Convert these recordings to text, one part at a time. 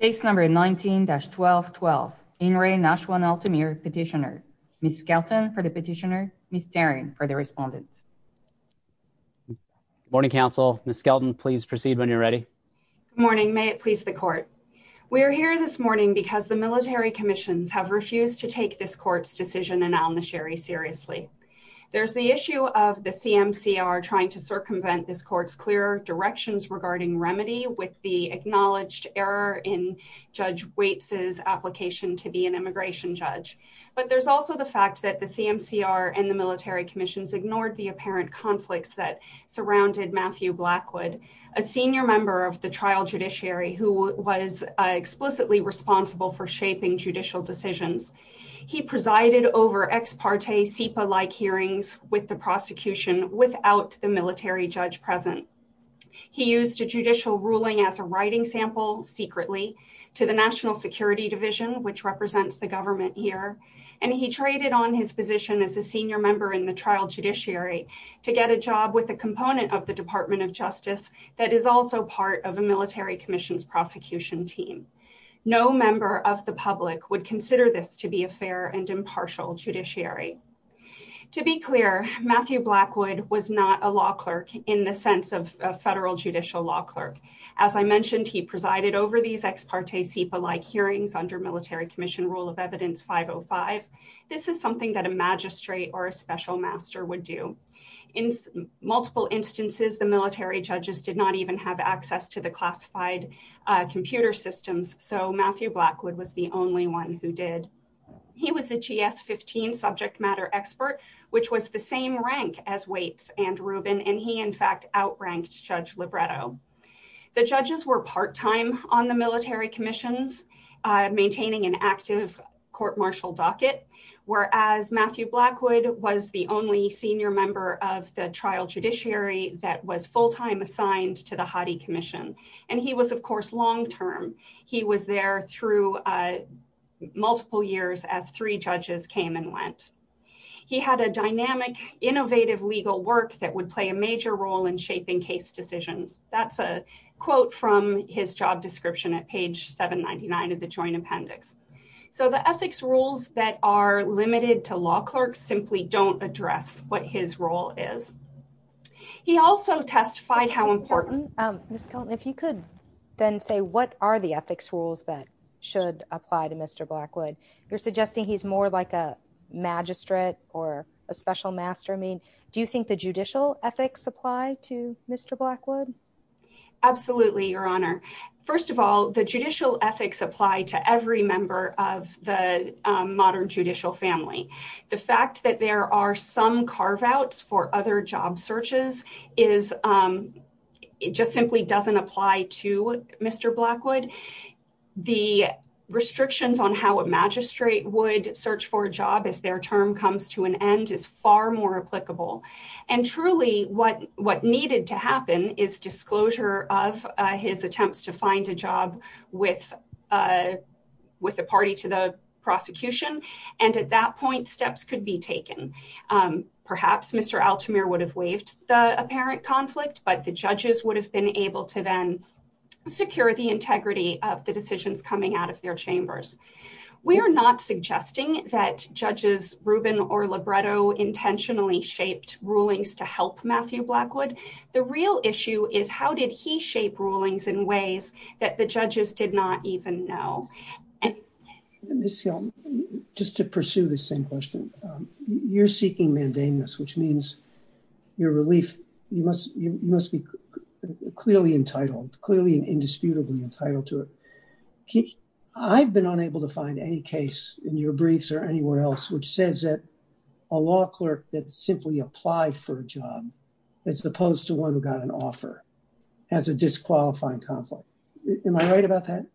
petitioner. Ms. Skelton for the petitioner, Ms. Daring for the respondent. Good morning, counsel. Ms. Skelton, please proceed when you're ready. Good morning. May it please the court. We are here this morning because the military commissions have refused to take this court's decision in al-Nusayri seriously. There's the issue of the CMCR trying to circumvent this court's clear directions regarding remedy with the acknowledged error in Judge Waitz's application to be an immigration judge. But there's also the fact that the CMCR and the military commissions ignored the apparent conflicts that surrounded Matthew Blackwood, a senior member of the trial judiciary who was explicitly responsible for shaping judicial decisions. He presided over ex parte SIPA-like hearings with the prosecution without the military judge present. He used a judicial ruling as a writing sample secretly to the National Security Division, which represents the government here, and he traded on his position as a senior member in the trial judiciary to get a job with a component of the Department of Justice that is also part of a military commission's prosecution team. No member of the public would consider this to be a fair and impartial judiciary. To be clear, Matthew Blackwood was not a law clerk in the sense of a federal judicial law clerk. As I mentioned, he presided over these ex parte SIPA-like hearings under military commission rule of evidence 505. This is something that a magistrate or a special master would do. In multiple instances, the military judges did not even have access to the classified computer systems, so Matthew Blackwood was the only one who did. He was a GS-15 subject matter expert, which was the same rank as Waits and Rubin, and he, in fact, outranked Judge Libretto. The judges were part-time on the military commissions, maintaining an active court-martial docket, whereas Matthew Blackwood was the only senior member of the trial judiciary that was full-time assigned to the Hathi Commission, and he was, of course, long-term. He was there through multiple years as three judges came and went. He had a dynamic, innovative legal work that would play a major role in shaping case decisions. That's a quote from his job description at page 799 of the Joint Appendix. So the ethics rules that are limited to law clerks simply don't address what his role is. He also testified how important... Ms. Kelton, if you could then say what are the ethics rules that should apply to Mr. Blackwood? You're suggesting he's more like a magistrate or a special master. I mean, do you think the judicial ethics apply to Mr. Blackwood? Absolutely, Your Honor. First of all, the judicial ethics apply to every member of the modern judicial family. The fact that there are some carve-outs for other job searches just simply doesn't apply to Mr. Blackwood. The restrictions on how a magistrate would search for a job as their term comes to an end is far more applicable. And truly, what needed to happen is disclosure of his attempts to find a job with a party to the prosecution. And at that point, steps could be taken. Perhaps Mr. Altamir would have waived the apparent conflict, but the judges would have been able to then secure the integrity of the decisions coming out of their chambers. We are not suggesting that Judges Rubin or Libretto intentionally shaped rulings to help Matthew Blackwood. The real issue is how did he shape rulings in ways that the judges did not even know? Ms. Helm, just to pursue the same question, you're seeking mandameness, which means your relief, you must be clearly entitled, clearly and indisputably entitled to it. I've been unable to find any case in your briefs or anywhere else which says that a law clerk that simply applied for a job, as opposed to one who got an offer, has a disqualifying conflict. Am I right about that?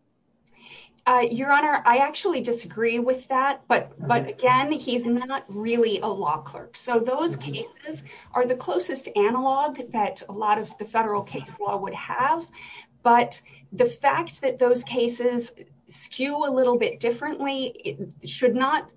Your Honor, I actually disagree with that, but again, he's not really a law clerk. So those cases are the closest analog that a lot of the federal case law would have, but the fact that those cases skew a little bit differently should not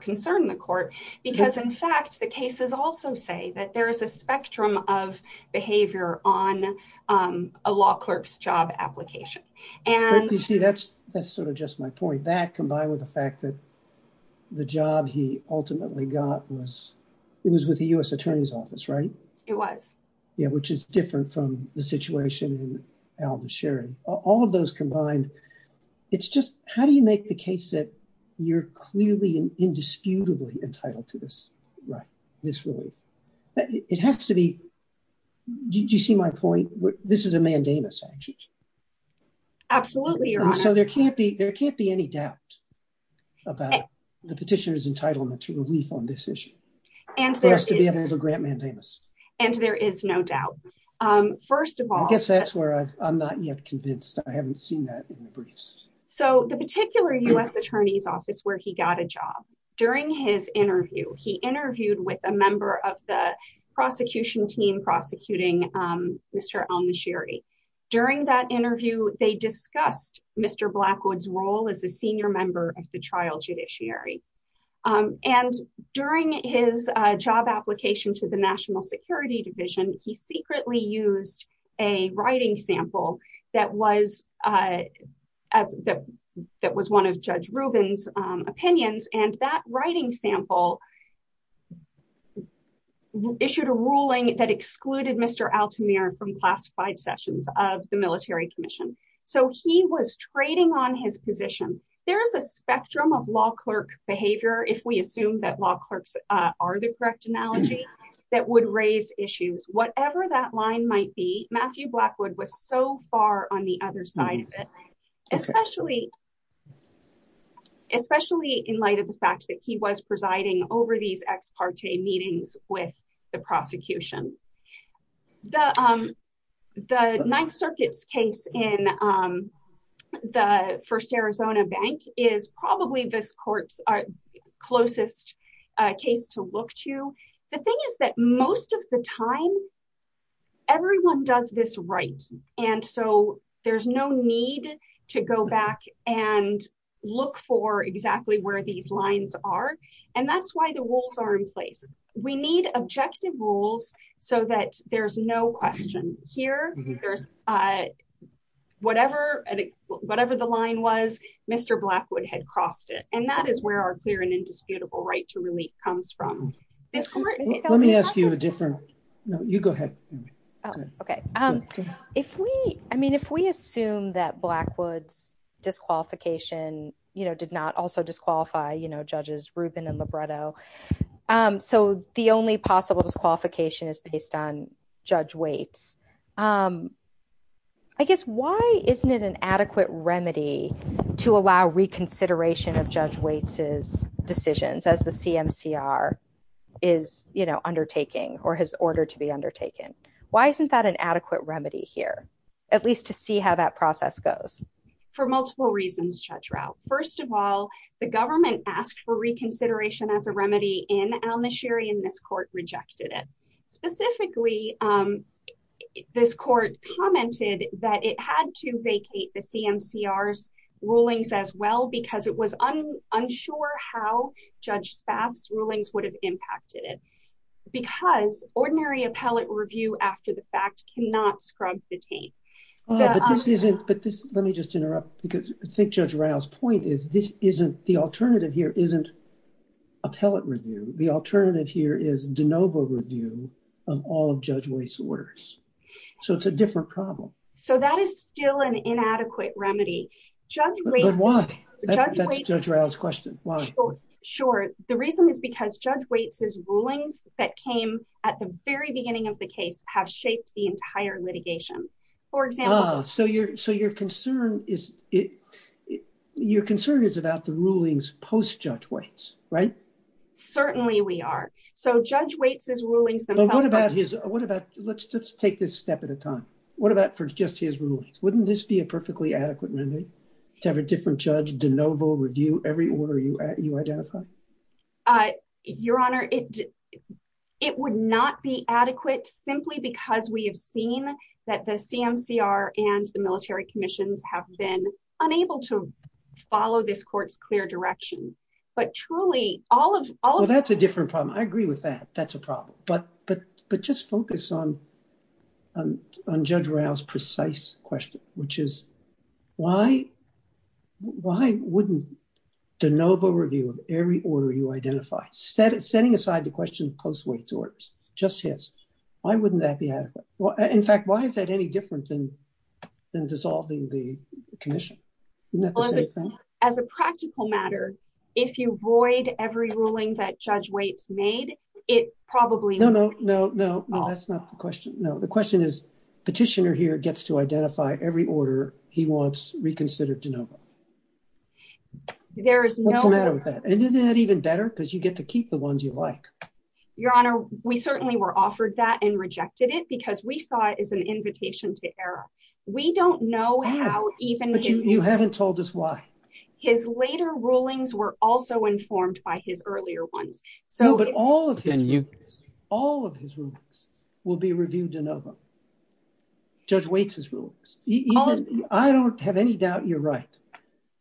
concern the court because in fact, the cases also say that there is a spectrum of behavior on a law clerk's job application. But you see, that's sort of just my point. That combined with the fact that the job he ultimately got was, it was with the U.S. Attorney's Office, right? It was. Yeah, which is different from the situation in Aldo Sherry. All of those combined, it's just, how do you make the case that you're clearly and indisputably entitled to this relief? It has to be, do you see my point? This is a mandamus, actually. Absolutely, Your Honor. So there can't be any doubt about the petitioner's entitlement to relief on this issue for us to be able to grant mandamus. And there is no doubt. First of all- I guess that's where I'm not yet convinced, I haven't seen that in the briefs. So the particular U.S. Attorney's Office where he got a job, during his interview, he interviewed with a member of the prosecution team prosecuting Mr. Al-Nashiri. During that interview, they discussed Mr. Blackwood's role as a senior member of the trial judiciary. And during his job application to the National Security Division, he secretly used a writing sample that was one of Judge Rubin's opinions. And that writing sample issued a ruling that excluded Mr. Al-Tamir from classified sessions of the military commission. So he was trading on his position. There's a spectrum of law clerk behavior, if we assume that law clerks are the correct analogy, that would raise issues. Whatever that line might be, Matthew Blackwood was so far on the other side of it, especially in light of the fact that he was presiding over these ex parte meetings with the prosecution. The Ninth Circuit's case in the First Arizona Bank is probably this court's closest case to look to. The thing is that most of the time, everyone does this right. And so there's no need to go back and look for exactly where these lines are. And that's why the rules are in place. We need objective rules so that there's no question here, there's whatever, whatever the line was, Mr. Blackwood had crossed it. And that is where our clear and indisputable right to relief comes from. Let me ask you a different, no, you go ahead. Okay. Um, if we, I mean, if we assume that Blackwood's disqualification, you know, did not also disqualify, you know, judges Rubin and Libretto. So the only possible disqualification is based on Judge Waits. I guess why isn't it an adequate remedy to allow reconsideration of Judge Waits's decisions as the CMCR is, you know, undertaking or has ordered to be undertaken? Why isn't that an adequate remedy here? At least to see how that process goes. For multiple reasons, Judge Rao. First of all, the government asked for reconsideration as a remedy in Al-Nashiri, and this court rejected it. Specifically, this court commented that it had to vacate the CMCR's rulings as well because it was unsure how Judge Spaff's rulings would have impacted it. Because ordinary appellate review after the fact cannot scrub the taint. Oh, but this isn't, but this, let me just interrupt because I think Judge Rao's point is this isn't, the alternative here isn't appellate review. The alternative here is de novo review of all of Judge Waits's orders. So it's a different problem. So that is still an inadequate remedy. But why? That's Judge Rao's question. Why? Sure. The reason is because Judge Waits's rulings that came at the very beginning of the case have shaped the entire litigation. For example... Ah, so your concern is, your concern is about the rulings post-Judge Waits, right? Certainly we are. So Judge Waits's rulings themselves... But what about his, what about, let's take this step at a time. What about for just his rulings? Wouldn't this be a perfectly adequate remedy to have a different judge de novo review every order you identify? Your Honor, it would not be adequate simply because we have seen that the CMCR and the military commissions have been unable to follow this court's clear direction. But truly all of... That's a different problem. I agree with that. That's a problem. But just focus on Judge Rao's precise question, which is why wouldn't de novo review of every order you identify, setting aside the question of post-Waits orders, just his, why wouldn't that be adequate? In fact, why is that any different than dissolving the commission? As a practical matter, if you void every ruling that Judge Waits made, it probably No, no, no, no, no, that's not the question. No, the question is petitioner here gets to identify every order he wants reconsidered de novo. There is no... What's the matter with that? And isn't that even better because you get to keep the ones you like? Your Honor, we certainly were offered that and rejected it because we saw it as an invitation to error. We don't know how even... But you haven't told us why. His later rulings were also informed by his earlier ones. No, but all of his rulings, all of his rulings will be reviewed de novo, Judge Waits' rulings. I don't have any doubt you're right,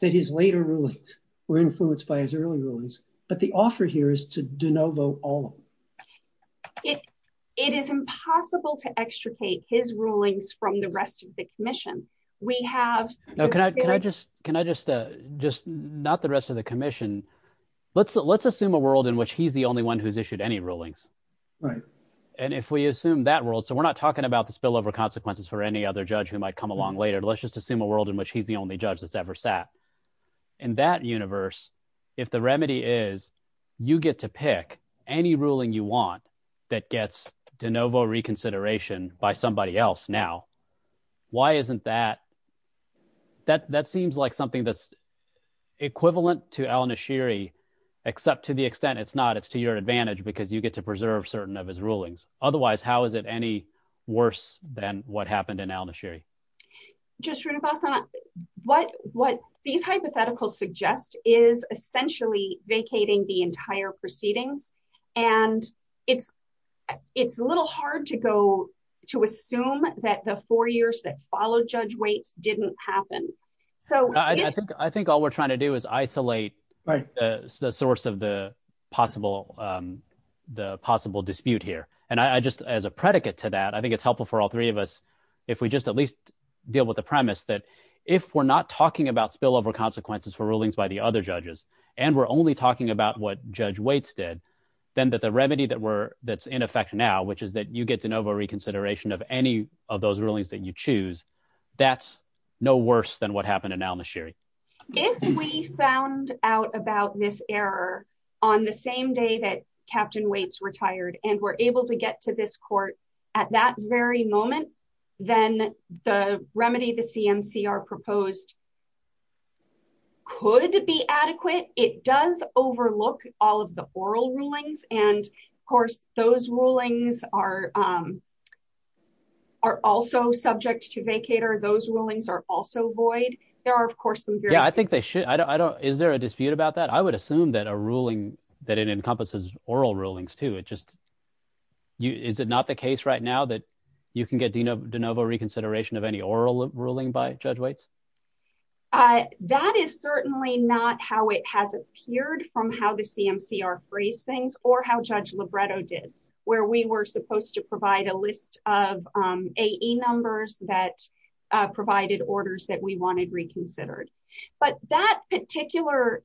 that his later rulings were influenced by his early rulings, but the offer here is to de novo all of them. It is impossible to extricate his rulings from the rest of the commission. We have... No, can I just, just not the rest of the commission. Let's assume a world in which he's the only one who's issued any rulings. And if we assume that world, so we're not talking about the spillover consequences for any other judge who might come along later. Let's just assume a world in which he's the only judge that's ever sat. In that universe, if the remedy is you get to pick any ruling you want that gets de novo reconsideration by somebody else now, why isn't that... It's equivalent to Al-Nashiri, except to the extent it's not, it's to your advantage because you get to preserve certain of his rulings. Otherwise, how is it any worse than what happened in Al-Nashiri? Judge Srinivasan, what these hypotheticals suggest is essentially vacating the entire proceedings. And it's a little hard to go to assume that the four years that followed Judge Waits didn't happen. I think all we're trying to do is isolate the source of the possible dispute here. And I just, as a predicate to that, I think it's helpful for all three of us if we just at least deal with the premise that if we're not talking about spillover consequences for rulings by the other judges, and we're only talking about what Judge Waits did, then that the remedy that's in effect now, which is that you get de novo reconsideration of any of those rulings that you choose, that's no worse than what happened in Al-Nashiri. If we found out about this error on the same day that Captain Waits retired and were able to get to this court at that very moment, then the remedy the CMCR proposed could be adequate. It does overlook all of the oral rulings. And of course, those rulings are also subject to vacator. Those rulings are also void. There are, of course, some... Yeah, I think they should. Is there a dispute about that? I would assume that a ruling, that it encompasses oral rulings too. Is it not the case right now that you can get de novo reconsideration of any oral ruling by Judge Waits? That is certainly not how it has appeared from how the CMCR phrased things or how Judge Libretto did, where we were supposed to provide a list of AE numbers that provided orders that we wanted reconsidered. But that particular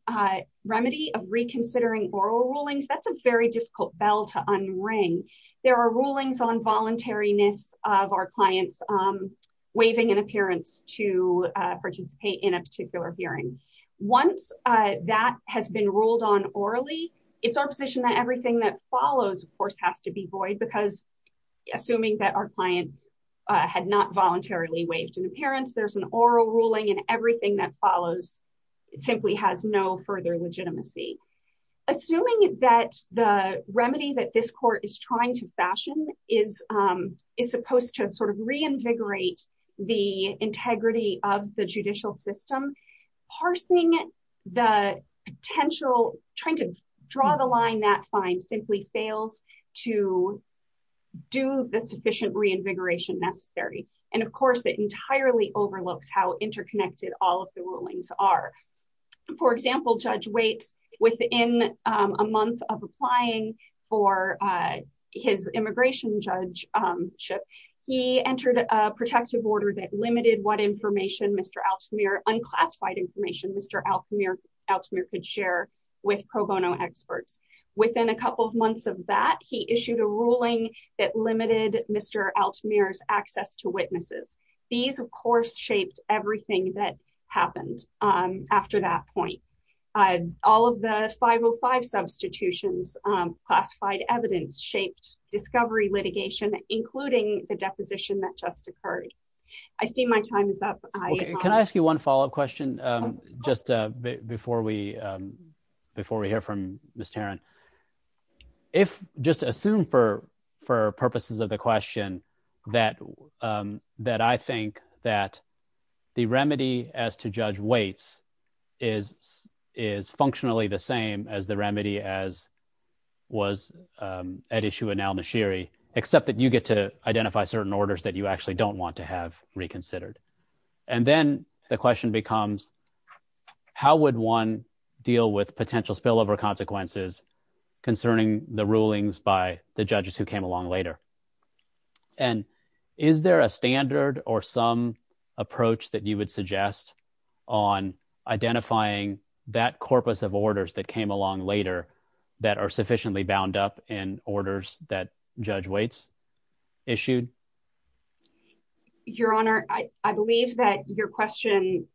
remedy of reconsidering oral rulings, that's a very difficult bell to unring. There are rulings on voluntariness of our clients waiving an appearance to participate in a particular hearing. Once that has been ruled on orally, it's our position that everything that follows, of course, has to be void because assuming that our client had not voluntarily waived an appearance, there's an oral ruling and everything that follows simply has no further legitimacy. Assuming that the remedy that this court is trying to fashion is supposed to reinvigorate the integrity of the judicial system, parsing the potential, trying to draw the line that fine simply fails to do the sufficient reinvigoration necessary. And of course, it entirely overlooks how interconnected all of the rulings are. For example, Judge Waits, within a month of applying for his immigration judgeship, he entered a protective order that limited what unclassified information Mr. Altamir could share with pro bono experts. Within a couple of months of that, he issued a ruling that limited Mr. Altamir's access to witnesses. These, of course, shaped everything that happened after that point. All of the 505 substitutions, classified evidence shaped discovery litigation, including the deposition that just occurred. I see my time is up. Can I ask you one follow-up question just before we hear from Ms. Tarrant? Just assume for purposes of the question that I think that the remedy as to Judge Waits is functionally the same as the remedy as was at issue in Al-Nashiri, except that you get to identify certain orders that you actually don't want to have reconsidered. And then the question becomes, how would one deal with potential spillover consequences concerning the rulings by the judges who came along later? And is there a standard or some approach that you would suggest on identifying that corpus of orders that came along later that are sufficiently bound up in orders that Judge Waits issued? Your Honor, I believe that your question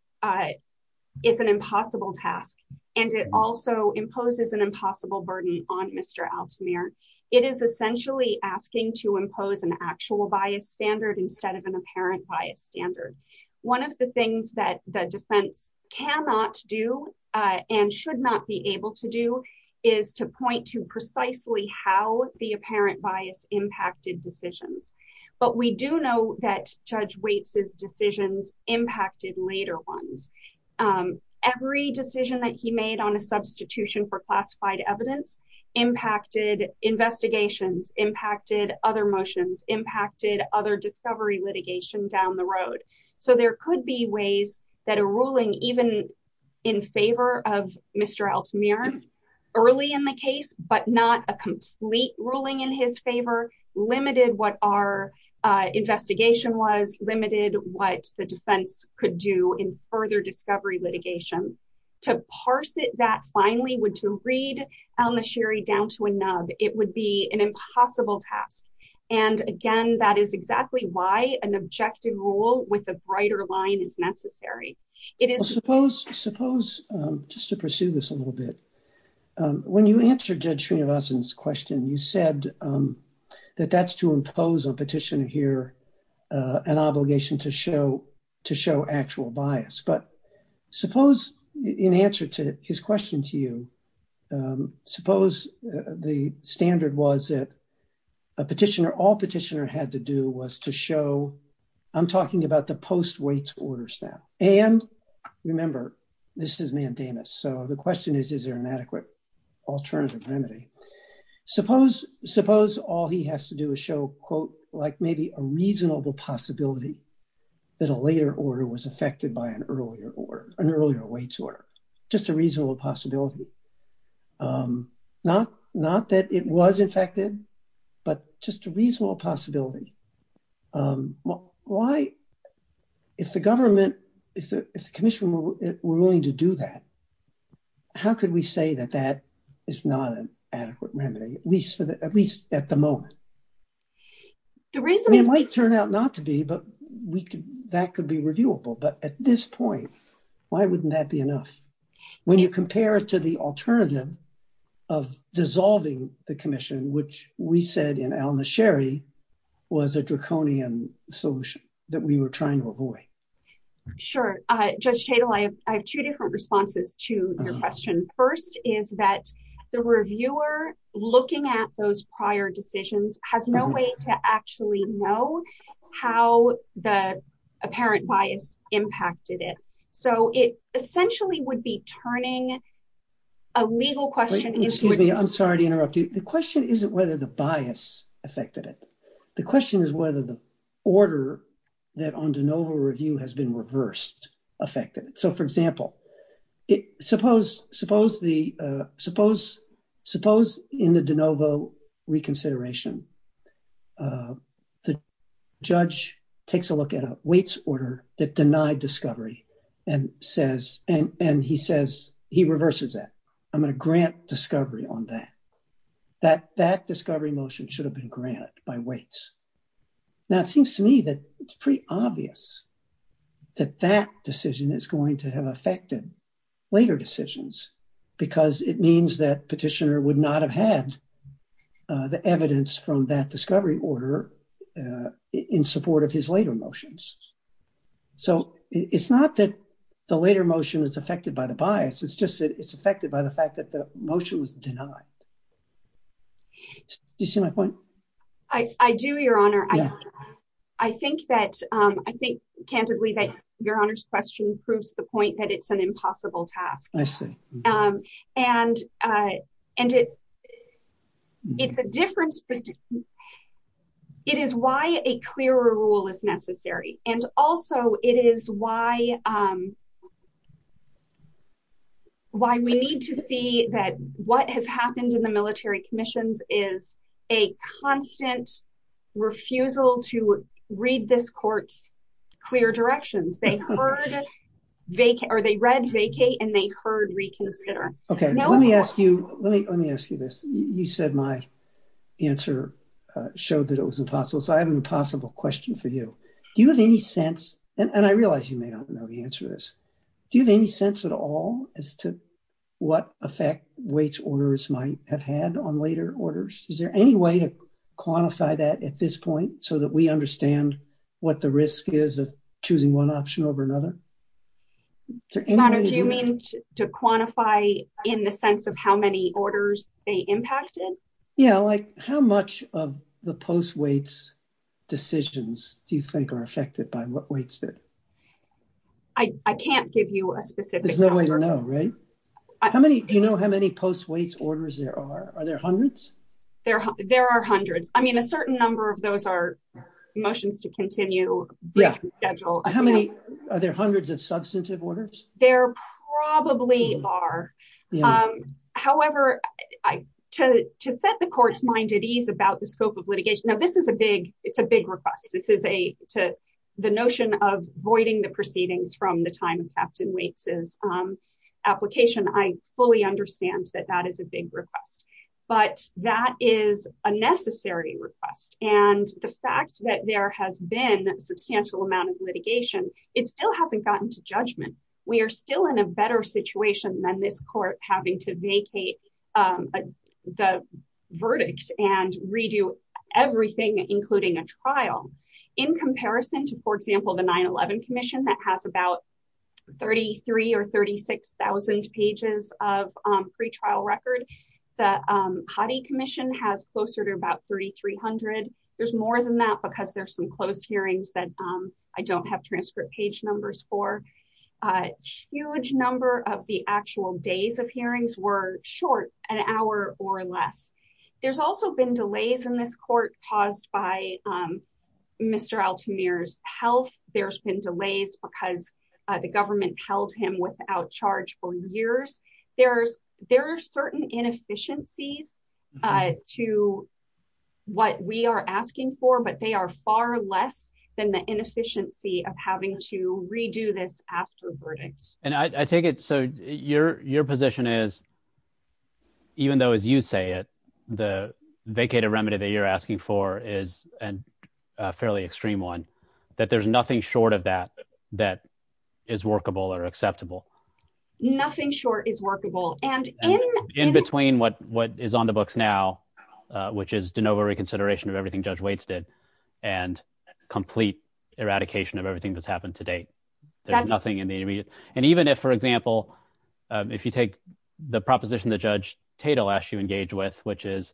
is an impossible task, and it also imposes an impossible burden on Mr. Altamir. It is essentially asking to impose an actual bias standard instead of an apparent bias standard. One of the things that the defense cannot do and should not be able to do is to point to precisely how the apparent bias impacted decisions. But we do know that Judge Waits' decisions impacted later ones. Every decision that he made on a substitution for classified evidence impacted investigations, impacted other motions, impacted other discovery litigation down the road. So there could be ways that a ruling even in favor of Mr. Altamir early in the case, but not a complete ruling in his favor, limited what our investigation was, limited what the discovery litigation. To parse it that finely, to read Al-Nashiri down to a nub, it would be an impossible task. And again, that is exactly why an objective rule with a brighter line is necessary. Suppose, just to pursue this a little bit, when you answered Judge Srinivasan's question, you said that that's to impose on Petitioner here an obligation to show actual bias. But suppose in answer to his question to you, suppose the standard was that a Petitioner, all Petitioner had to do was to show, I'm talking about the post-Waits orders now. And remember, this is mandamus. So the question is, is there an adequate alternative remedy? Suppose all he has to do is show, quote, like maybe a reasonable possibility that a later order was affected by an earlier order, an earlier Waits order, just a reasonable possibility. Not that it was infected, but just a reasonable possibility. Why, if the government, if the commission were willing to do that, how could we say that that is not an adequate remedy, at least at the moment? It might turn out not to be, but that could be reviewable. But at this point, why wouldn't that be enough? When you compare it to the alternative of dissolving the commission, which we said in Al-Nasheri was a draconian solution that we were trying to avoid. Sure. Judge Tatel, I have two different responses to your question. First is that the reviewer looking at those prior decisions has no way to actually know how the apparent bias impacted it. So it essentially would be turning a legal question into- Excuse me. I'm sorry to interrupt you. The question isn't whether the bias affected it. The question is whether the order that on de novo review has been reversed affected it. For example, suppose in the de novo reconsideration, the judge takes a look at a waits order that denied discovery and he reverses that. I'm going to grant discovery on that. That discovery motion should have been granted by waits. Now, it seems to me that it's pretty obvious that that decision is going to have affected later decisions because it means that petitioner would not have had the evidence from that discovery order in support of his later motions. So it's not that the later motion is affected by the bias. It's just that it's affected by the fact that the motion was denied. Do you see my point? I do, your honor. I think candidly that your honor's question proves the point that it's an impossible task. I see. And it's a difference. It is why a clearer rule is necessary. And also it is why we need to see that what has happened in the military commissions is a constant refusal to read this court's clear directions. Or they read vacate and they heard reconsider. Okay, let me ask you this. You said my answer showed that it was impossible. So I have an impossible question for you. Do you have any sense, and I realize you may not know the answer to this. Do you have any sense at all as to what effect waits orders might have had on later orders? Is there any way to quantify that at this point so that we understand what the risk is of choosing one option over another? Your honor, do you mean to quantify in the sense of how many orders they impacted? Yeah, like how much of the post waits decisions do you think are affected by what waits did? I can't give you a specific number. There's no way to know, right? Do you know how many post waits orders there are? Are there hundreds? There are hundreds. I mean, a certain number of those are motions to continue schedule. How many? Are there hundreds of substantive orders? There probably are. However, to set the court's mind at ease about the scope of litigation. Now, this is a big, it's a big request. This is the notion of voiding the proceedings from the time of Captain Waits' application. I fully understand that that is a big request. But that is a necessary request. And the fact that there has been a substantial amount of litigation, it still hasn't gotten to judgment. We are still in a better situation than this court having to vacate the verdict and redo everything, including a trial. In comparison to, for example, the 9-11 commission that has about 33,000 or 36,000 pages of pre-trial record, the Hathi commission has closer to about 3,300. There's more than that because there's some closed hearings that I don't have transcript page numbers for. A huge number of the actual days of hearings were short, an hour or less. There's also been delays in this court caused by Mr. Altamir's health. There's been delays because the government held him without charge for years. There are certain inefficiencies to what we are asking for, but they are far less than the inefficiency of having to redo this after verdicts. And I take it, so your position is, even though, as you say it, the vacated remedy that you're asking for is a fairly extreme one, that there's nothing short of that that is workable or acceptable? Nothing short is workable. And in between what is on the books now, which is de novo reconsideration of everything Judge Waits did and complete eradication of everything that's happened to date. There's nothing in the immediate. And even if, for example, if you take the proposition that Judge Tatel asked you to engage with, which is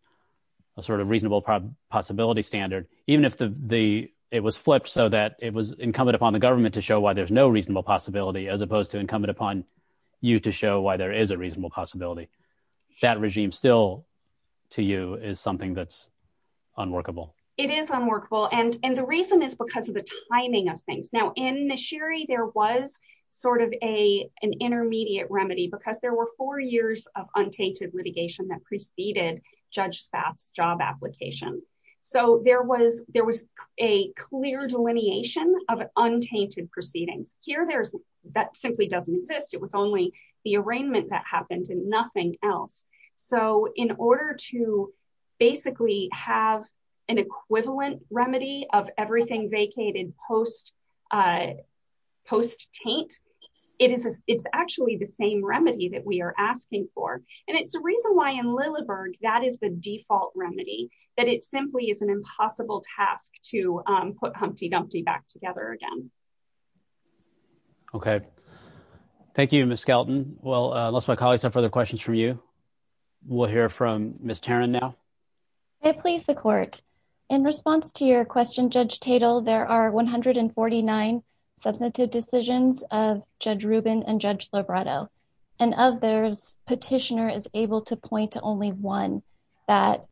a sort of reasonable possibility standard, even if it was flipped so that it was incumbent upon the government to show why there's no reasonable possibility, as opposed to incumbent upon you to show why there is a reasonable possibility, that regime still, to you, is something that's unworkable. It is unworkable. And the reason is because of the timing of things. Now, in the Sherry, there was sort of an intermediate remedy because there were four that preceded Judge Spath's job application. So there was a clear delineation of untainted proceedings. Here, that simply doesn't exist. It was only the arraignment that happened and nothing else. So in order to basically have an equivalent remedy of everything vacated post-taint, it's actually the same remedy that we are asking for. And it's the reason why, in Lilleberg, that is the default remedy, that it simply is an impossible task to put Humpty Dumpty back together again. Okay. Thank you, Ms. Skelton. Well, unless my colleagues have further questions from you, we'll hear from Ms. Taran now. May I please the court? In response to your question, Judge Tatel, there are 149 substantive decisions of Judge Rubin and Judge Lobredo. And of those, petitioner is able to point to only one that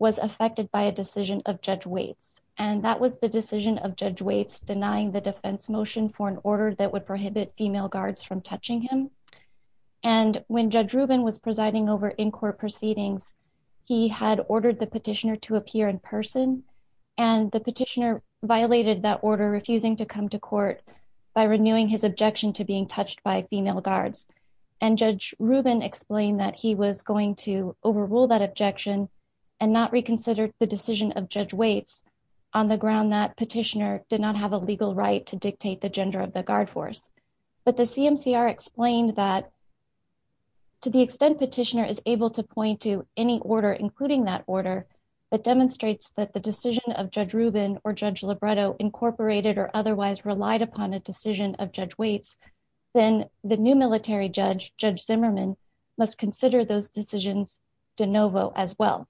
was affected by a decision of Judge Waits. And that was the decision of Judge Waits denying the defense motion for an order that would prohibit female guards from touching him. And when Judge Rubin was presiding over in-court proceedings, he had ordered the petitioner to appear in person. And the petitioner violated that order, refusing to come to court by renewing his objection to being touched by female guards. And Judge Rubin explained that he was going to overrule that objection and not reconsider the decision of Judge Waits on the ground that petitioner did not have a legal right to dictate the gender of the guard force. But the CMCR explained that, to the extent petitioner is able to point to any order, including that order, that demonstrates that the decision of Judge Rubin or Judge Lobredo incorporated or otherwise relied upon a decision of Judge Waits, then the new military judge, Judge Zimmerman, must consider those decisions de novo as well.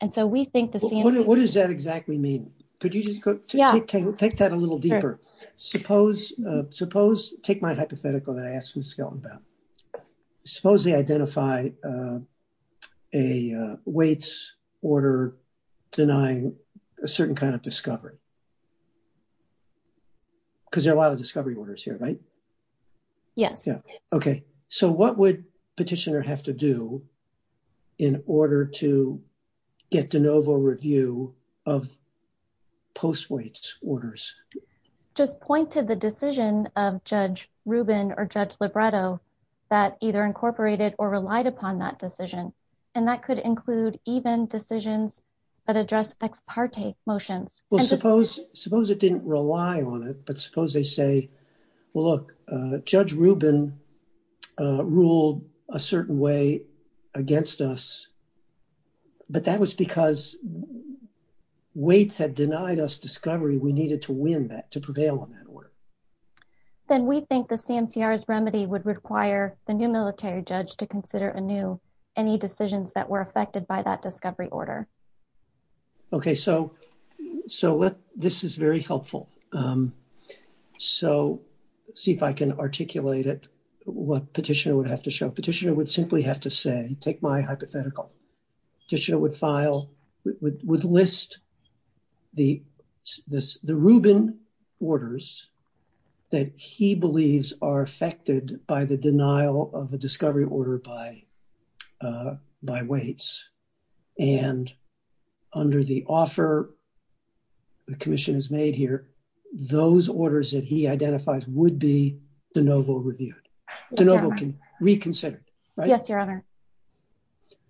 And so we think the CMCR- What does that exactly mean? Could you just take that a little deeper? Suppose, take my hypothetical that I asked Ms. Skelton about. Suppose they identify a Waits order denying a certain kind of discovery. Because there are a lot of discovery orders here, right? Yes. Yeah. Okay. So what would petitioner have to do in order to get de novo review of post-Waits orders? Just point to the decision of Judge Rubin or Judge Lobredo that either incorporated or relied upon that decision. And that could include even decisions that address ex parte motions. Well, suppose it didn't rely on it. But suppose they say, well, look, Judge Rubin ruled a certain way against us. But that was because Waits had denied us discovery. We needed to win that, to prevail on that order. Then we think the CMCR's remedy would require the new military judge to consider a new, any decisions that were affected by that discovery order. Okay, so let, this is very helpful. So see if I can articulate it, what petitioner would have to show. Petitioner would simply have to say, take my hypothetical. Petitioner would file, would list the Rubin orders that he believes are affected by the under the offer the commission has made here. Those orders that he identifies would be de novo reviewed. De novo reconsidered, right? Yes, your honor.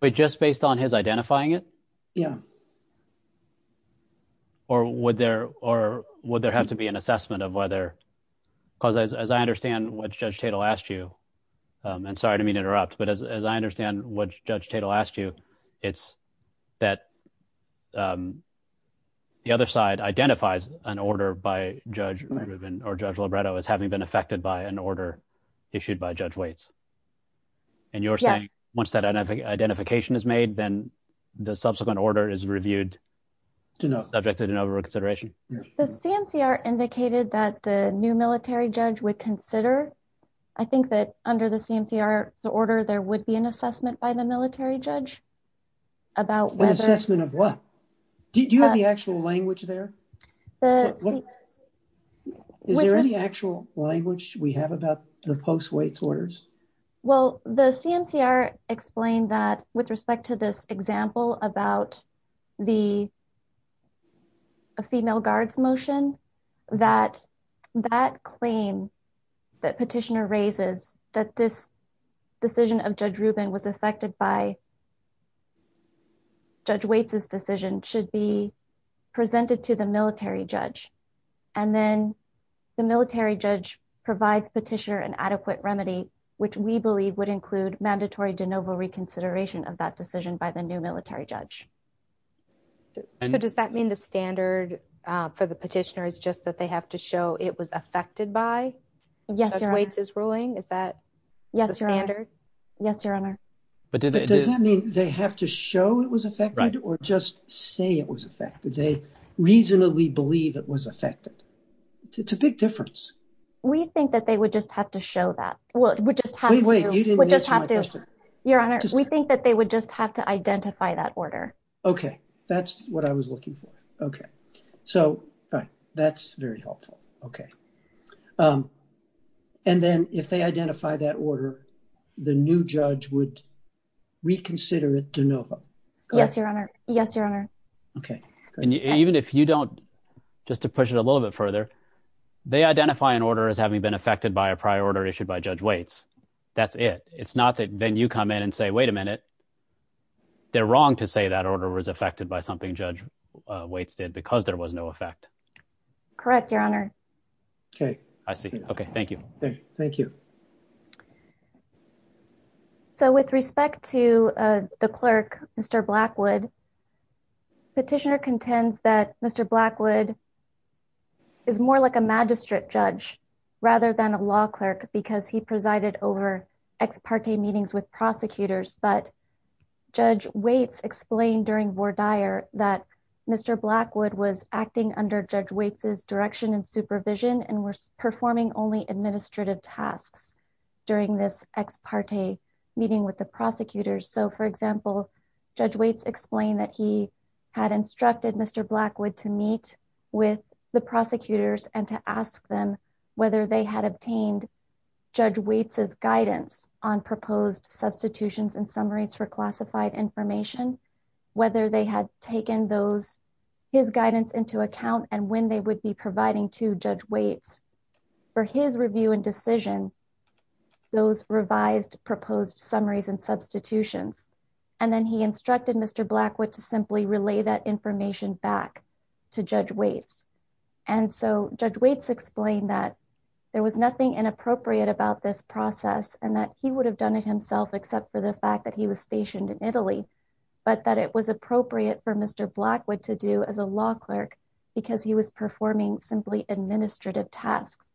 But just based on his identifying it? Yeah. Or would there have to be an assessment of whether, because as I understand what Judge Tatel asked you, and sorry to interrupt, but as I understand what Judge Tatel asked you, it's that the other side identifies an order by Judge Rubin or Judge Libretto as having been affected by an order issued by Judge Waits. And you're saying once that identification is made, then the subsequent order is reviewed subject to de novo reconsideration? The CMCR indicated that the new military judge would consider. I think that under the CMCR's order, there would be an assessment by the military judge. About an assessment of what? Do you have the actual language there? Is there any actual language we have about the post Waits orders? Well, the CMCR explained that with respect to this example about the female guards motion, that that claim that petitioner raises that this decision of Judge Rubin was affected by Judge Waits' decision should be presented to the military judge. And then the military judge provides petitioner an adequate remedy, which we believe would include mandatory de novo reconsideration of that decision by the new military judge. So does that mean the standard for the petitioner is just that they have to show it was affected by Judge Waits' ruling? Is that the standard? Yes, Your Honor. But does that mean they have to show it was affected or just say it was affected? They reasonably believe it was affected. It's a big difference. We think that they would just have to show that. Well, it would just have to. Wait, you didn't answer my question. Your Honor, we think that they would just have to identify that order. Okay. That's what I was looking for. Okay. So that's very helpful. Okay. Um, and then if they identify that order, the new judge would reconsider it de novo. Yes, Your Honor. Yes, Your Honor. Okay. And even if you don't, just to push it a little bit further, they identify an order as having been affected by a prior order issued by Judge Waits. That's it. It's not that then you come in and say, wait a minute, they're wrong to say that order was affected by something Judge Waits did because there was no effect. Correct, Your Honor. Okay. I see. Okay. Thank you. Thank you. So with respect to the clerk, Mr. Blackwood, petitioner contends that Mr. Blackwood is more like a magistrate judge rather than a law clerk because he presided over ex parte meetings with prosecutors. But Judge Waits explained during voir dire that Mr. Blackwood was acting under Judge Waits's direction and supervision and was performing only administrative tasks during this ex parte meeting with the prosecutors. So, for example, Judge Waits explained that he had instructed Mr. Blackwood to meet with the prosecutors and to ask them whether they had obtained Judge Waits's guidance on proposed substitutions and summaries for classified information, whether they had taken those his guidance into account and when they would be providing to Judge Waits for his review and decision, those revised proposed summaries and substitutions. And then he instructed Mr. Blackwood to simply relay that information back to Judge Waits. And so Judge Waits explained that there was nothing inappropriate about this process and that he would have done it himself except for the fact that he was stationed in Italy, but that it was appropriate for Mr. Blackwood to do as a law clerk because he was performing simply administrative tasks.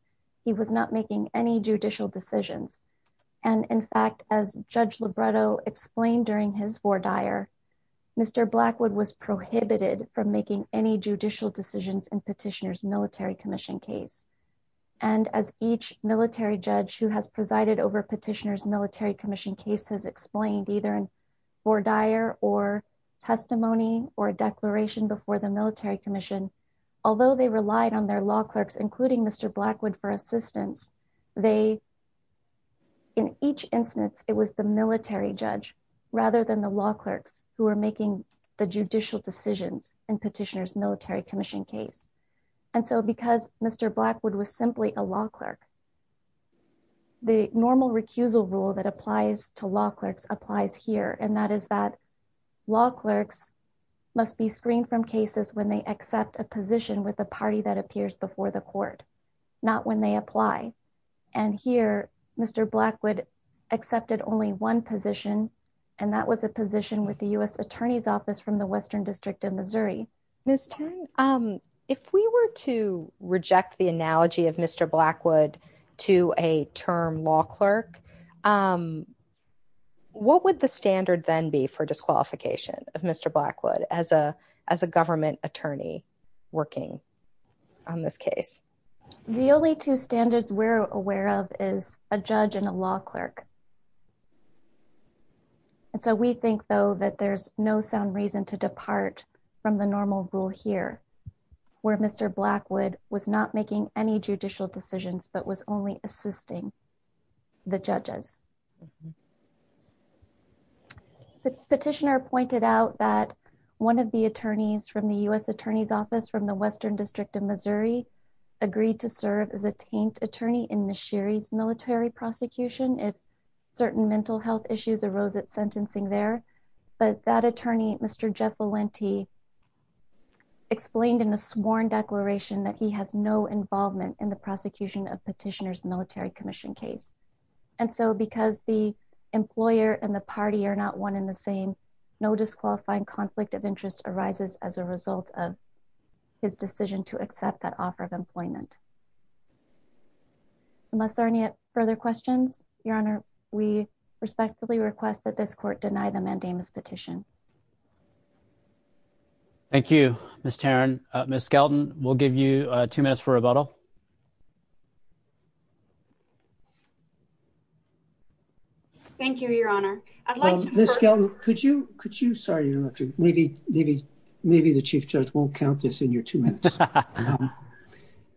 He was not making any judicial decisions. And in fact, as Judge Libretto explained during his voir dire, Mr. Blackwood was prohibited from making any judicial decisions in Petitioner's Military Commission case. And as each military judge who has presided over Petitioner's Military Commission case has explained either in voir dire or testimony or declaration before the Military Commission, although they relied on their law clerks, including Mr. Blackwood for assistance, they, in each instance, it was the military judge rather than the law clerks who were making the judicial decisions in Petitioner's Military Commission case. And so because Mr. Blackwood was simply a law clerk, the normal recusal rule that applies to law clerks applies here. And that is that law clerks must be screened from cases when they accept a position with the party that appears before the court, not when they apply. And here, Mr. Blackwood accepted only one position, and that was a position with the U.S. Attorney's Office from the Western District of Missouri. Ms. Tan, if we were to reject the analogy of Mr. Blackwood to a term law clerk, what would the standard then be for disqualification of Mr. Blackwood as a government attorney working on this case? The only two standards we're aware of is a judge and a law clerk. And so we think, though, that there's no sound reason to depart from the normal rule here, where Mr. Blackwood was not making any judicial decisions, but was only assisting the judges. The petitioner pointed out that one of the attorneys from the U.S. Attorney's Office from the Western District of Missouri agreed to serve as a taint attorney in the Sherry's Military Prosecution. Certain mental health issues arose at sentencing there, but that attorney, Mr. Jeff Valenti, explained in a sworn declaration that he has no involvement in the prosecution of petitioner's military commission case. And so because the employer and the party are not one in the same, no disqualifying conflict of interest arises as a result of his decision to accept that offer of employment. Unless there are any further questions, Your Honor, we respectfully request that this court deny the mandamus petition. Thank you, Ms. Tarrin. Ms. Skelton, we'll give you two minutes for rebuttal. Thank you, Your Honor. I'd like to- Ms. Skelton, could you- sorry, maybe the chief judge won't count this in your two minutes. No.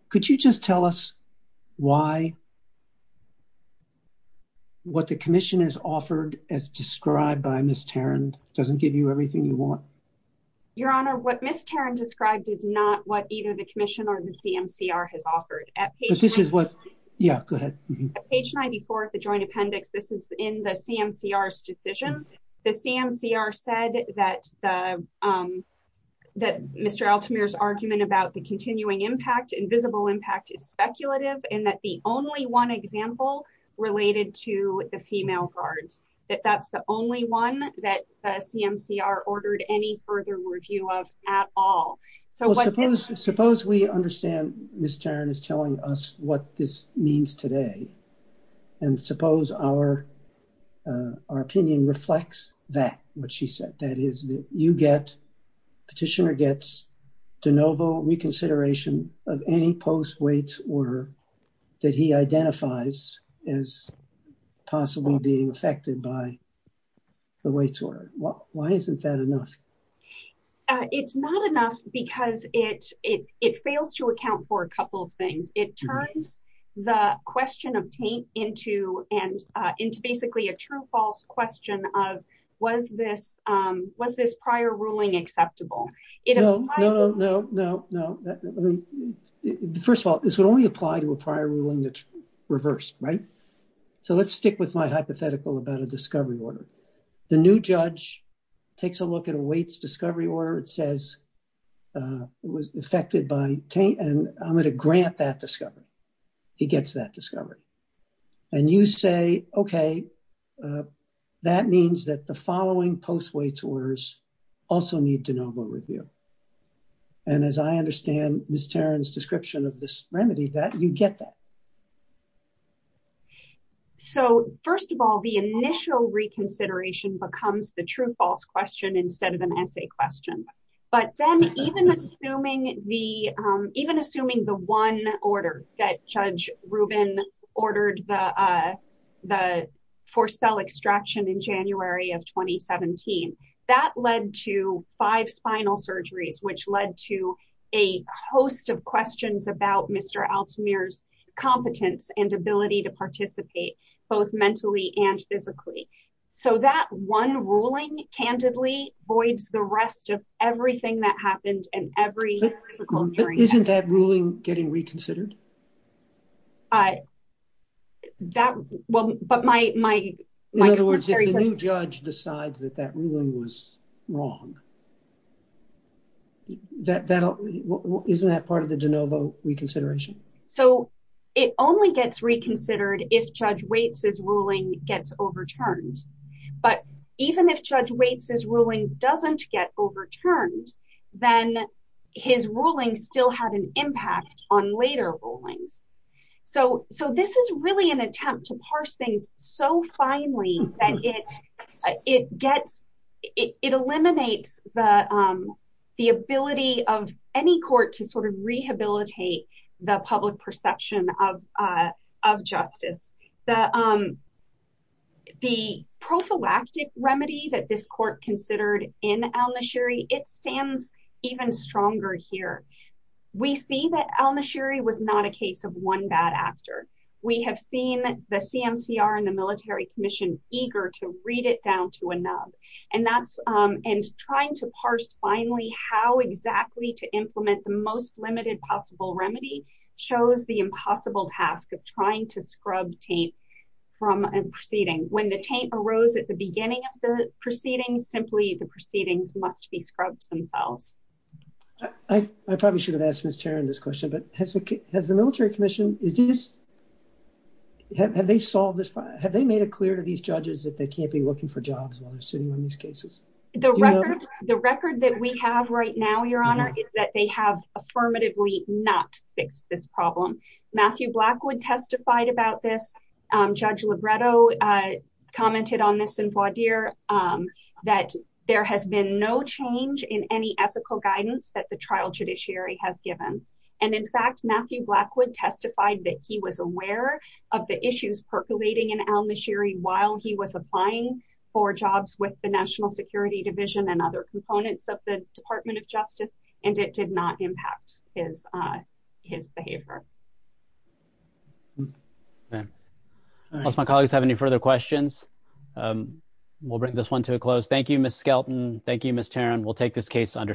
Could you just tell us why what the commission has offered as described by Ms. Tarrin doesn't give you everything you want? Your Honor, what Ms. Tarrin described is not what either the commission or the CMCR has offered. But this is what- Yeah, go ahead. At page 94 of the joint appendix, this is in the CMCR's decision. The CMCR said that Mr. Altamir's argument about the continuing impact, invisible impact is speculative, and that the only one example related to the female guards, that that's the only one that the CMCR ordered any further review of at all. So what- Suppose we understand Ms. Tarrin is telling us what this means today. And suppose our opinion reflects that, what she said. That is, you get, petitioner gets de novo reconsideration of any post-waits order that he identifies as possibly being affected by the waits order. Why isn't that enough? It's not enough because it fails to account for a couple of things. It turns the question of taint into, and into basically a true false question of, was this prior ruling acceptable? No, no, no, no, no. First of all, this would only apply to a prior ruling that's reversed, right? So let's stick with my hypothetical about a discovery order. The new judge takes a look at a waits discovery order. It says it was affected by taint, and I'm going to grant that discovery. He gets that discovery. And you say, okay, that means that the following post-waits orders also need de novo review. And as I understand Ms. Tarrin's description of this remedy, that you get that. So first of all, the initial reconsideration becomes the true false question instead of an essay question. But then even assuming the one order that Judge Rubin ordered the forced cell extraction in January of 2017, that led to five spinal surgeries, which led to a host of questions about Mr. Altemir's competence and ability to participate both mentally and physically. So that one ruling, candidly, voids the rest of everything that happened. Isn't that ruling getting reconsidered? In other words, if the new judge decides that that ruling was wrong, isn't that part of the de novo reconsideration? So it only gets reconsidered if Judge Waits' ruling gets overturned. But even if Judge Waits' ruling doesn't get overturned, then his ruling still had an impact on later rulings. So this is really an attempt to parse things so finely that it eliminates the ability of any court to rehabilitate the public perception of justice. The prophylactic remedy that this court considered in al-Nashiri, it stands even stronger here. We see that al-Nashiri was not a case of one bad actor. We have seen the CMCR and the Military Commission eager to read it down to a nub. And trying to parse finally how exactly to implement the most limited possible remedy shows the impossible task of trying to scrub taint from a proceeding. When the taint arose at the beginning of the proceeding, simply the proceedings must be scrubbed themselves. I probably should have asked Ms. Tarrin this question, but has the Military Commission, have they made it clear to these judges that they can't be looking for jobs while they're sitting on these cases? The record that we have right now, Your Honor, is that they have affirmatively not fixed this problem. Matthew Blackwood testified about this. Judge Libretto commented on this in Bois d'Ire that there has been no change in any ethical guidance that the trial judiciary has given. And in fact, Matthew Blackwood testified that he was aware of the issues percolating in the National Security Division and other components of the Department of Justice, and it did not impact his behavior. Unless my colleagues have any further questions, we'll bring this one to a close. Thank you, Ms. Skelton. Thank you, Ms. Tarrin. We'll take this case under submission.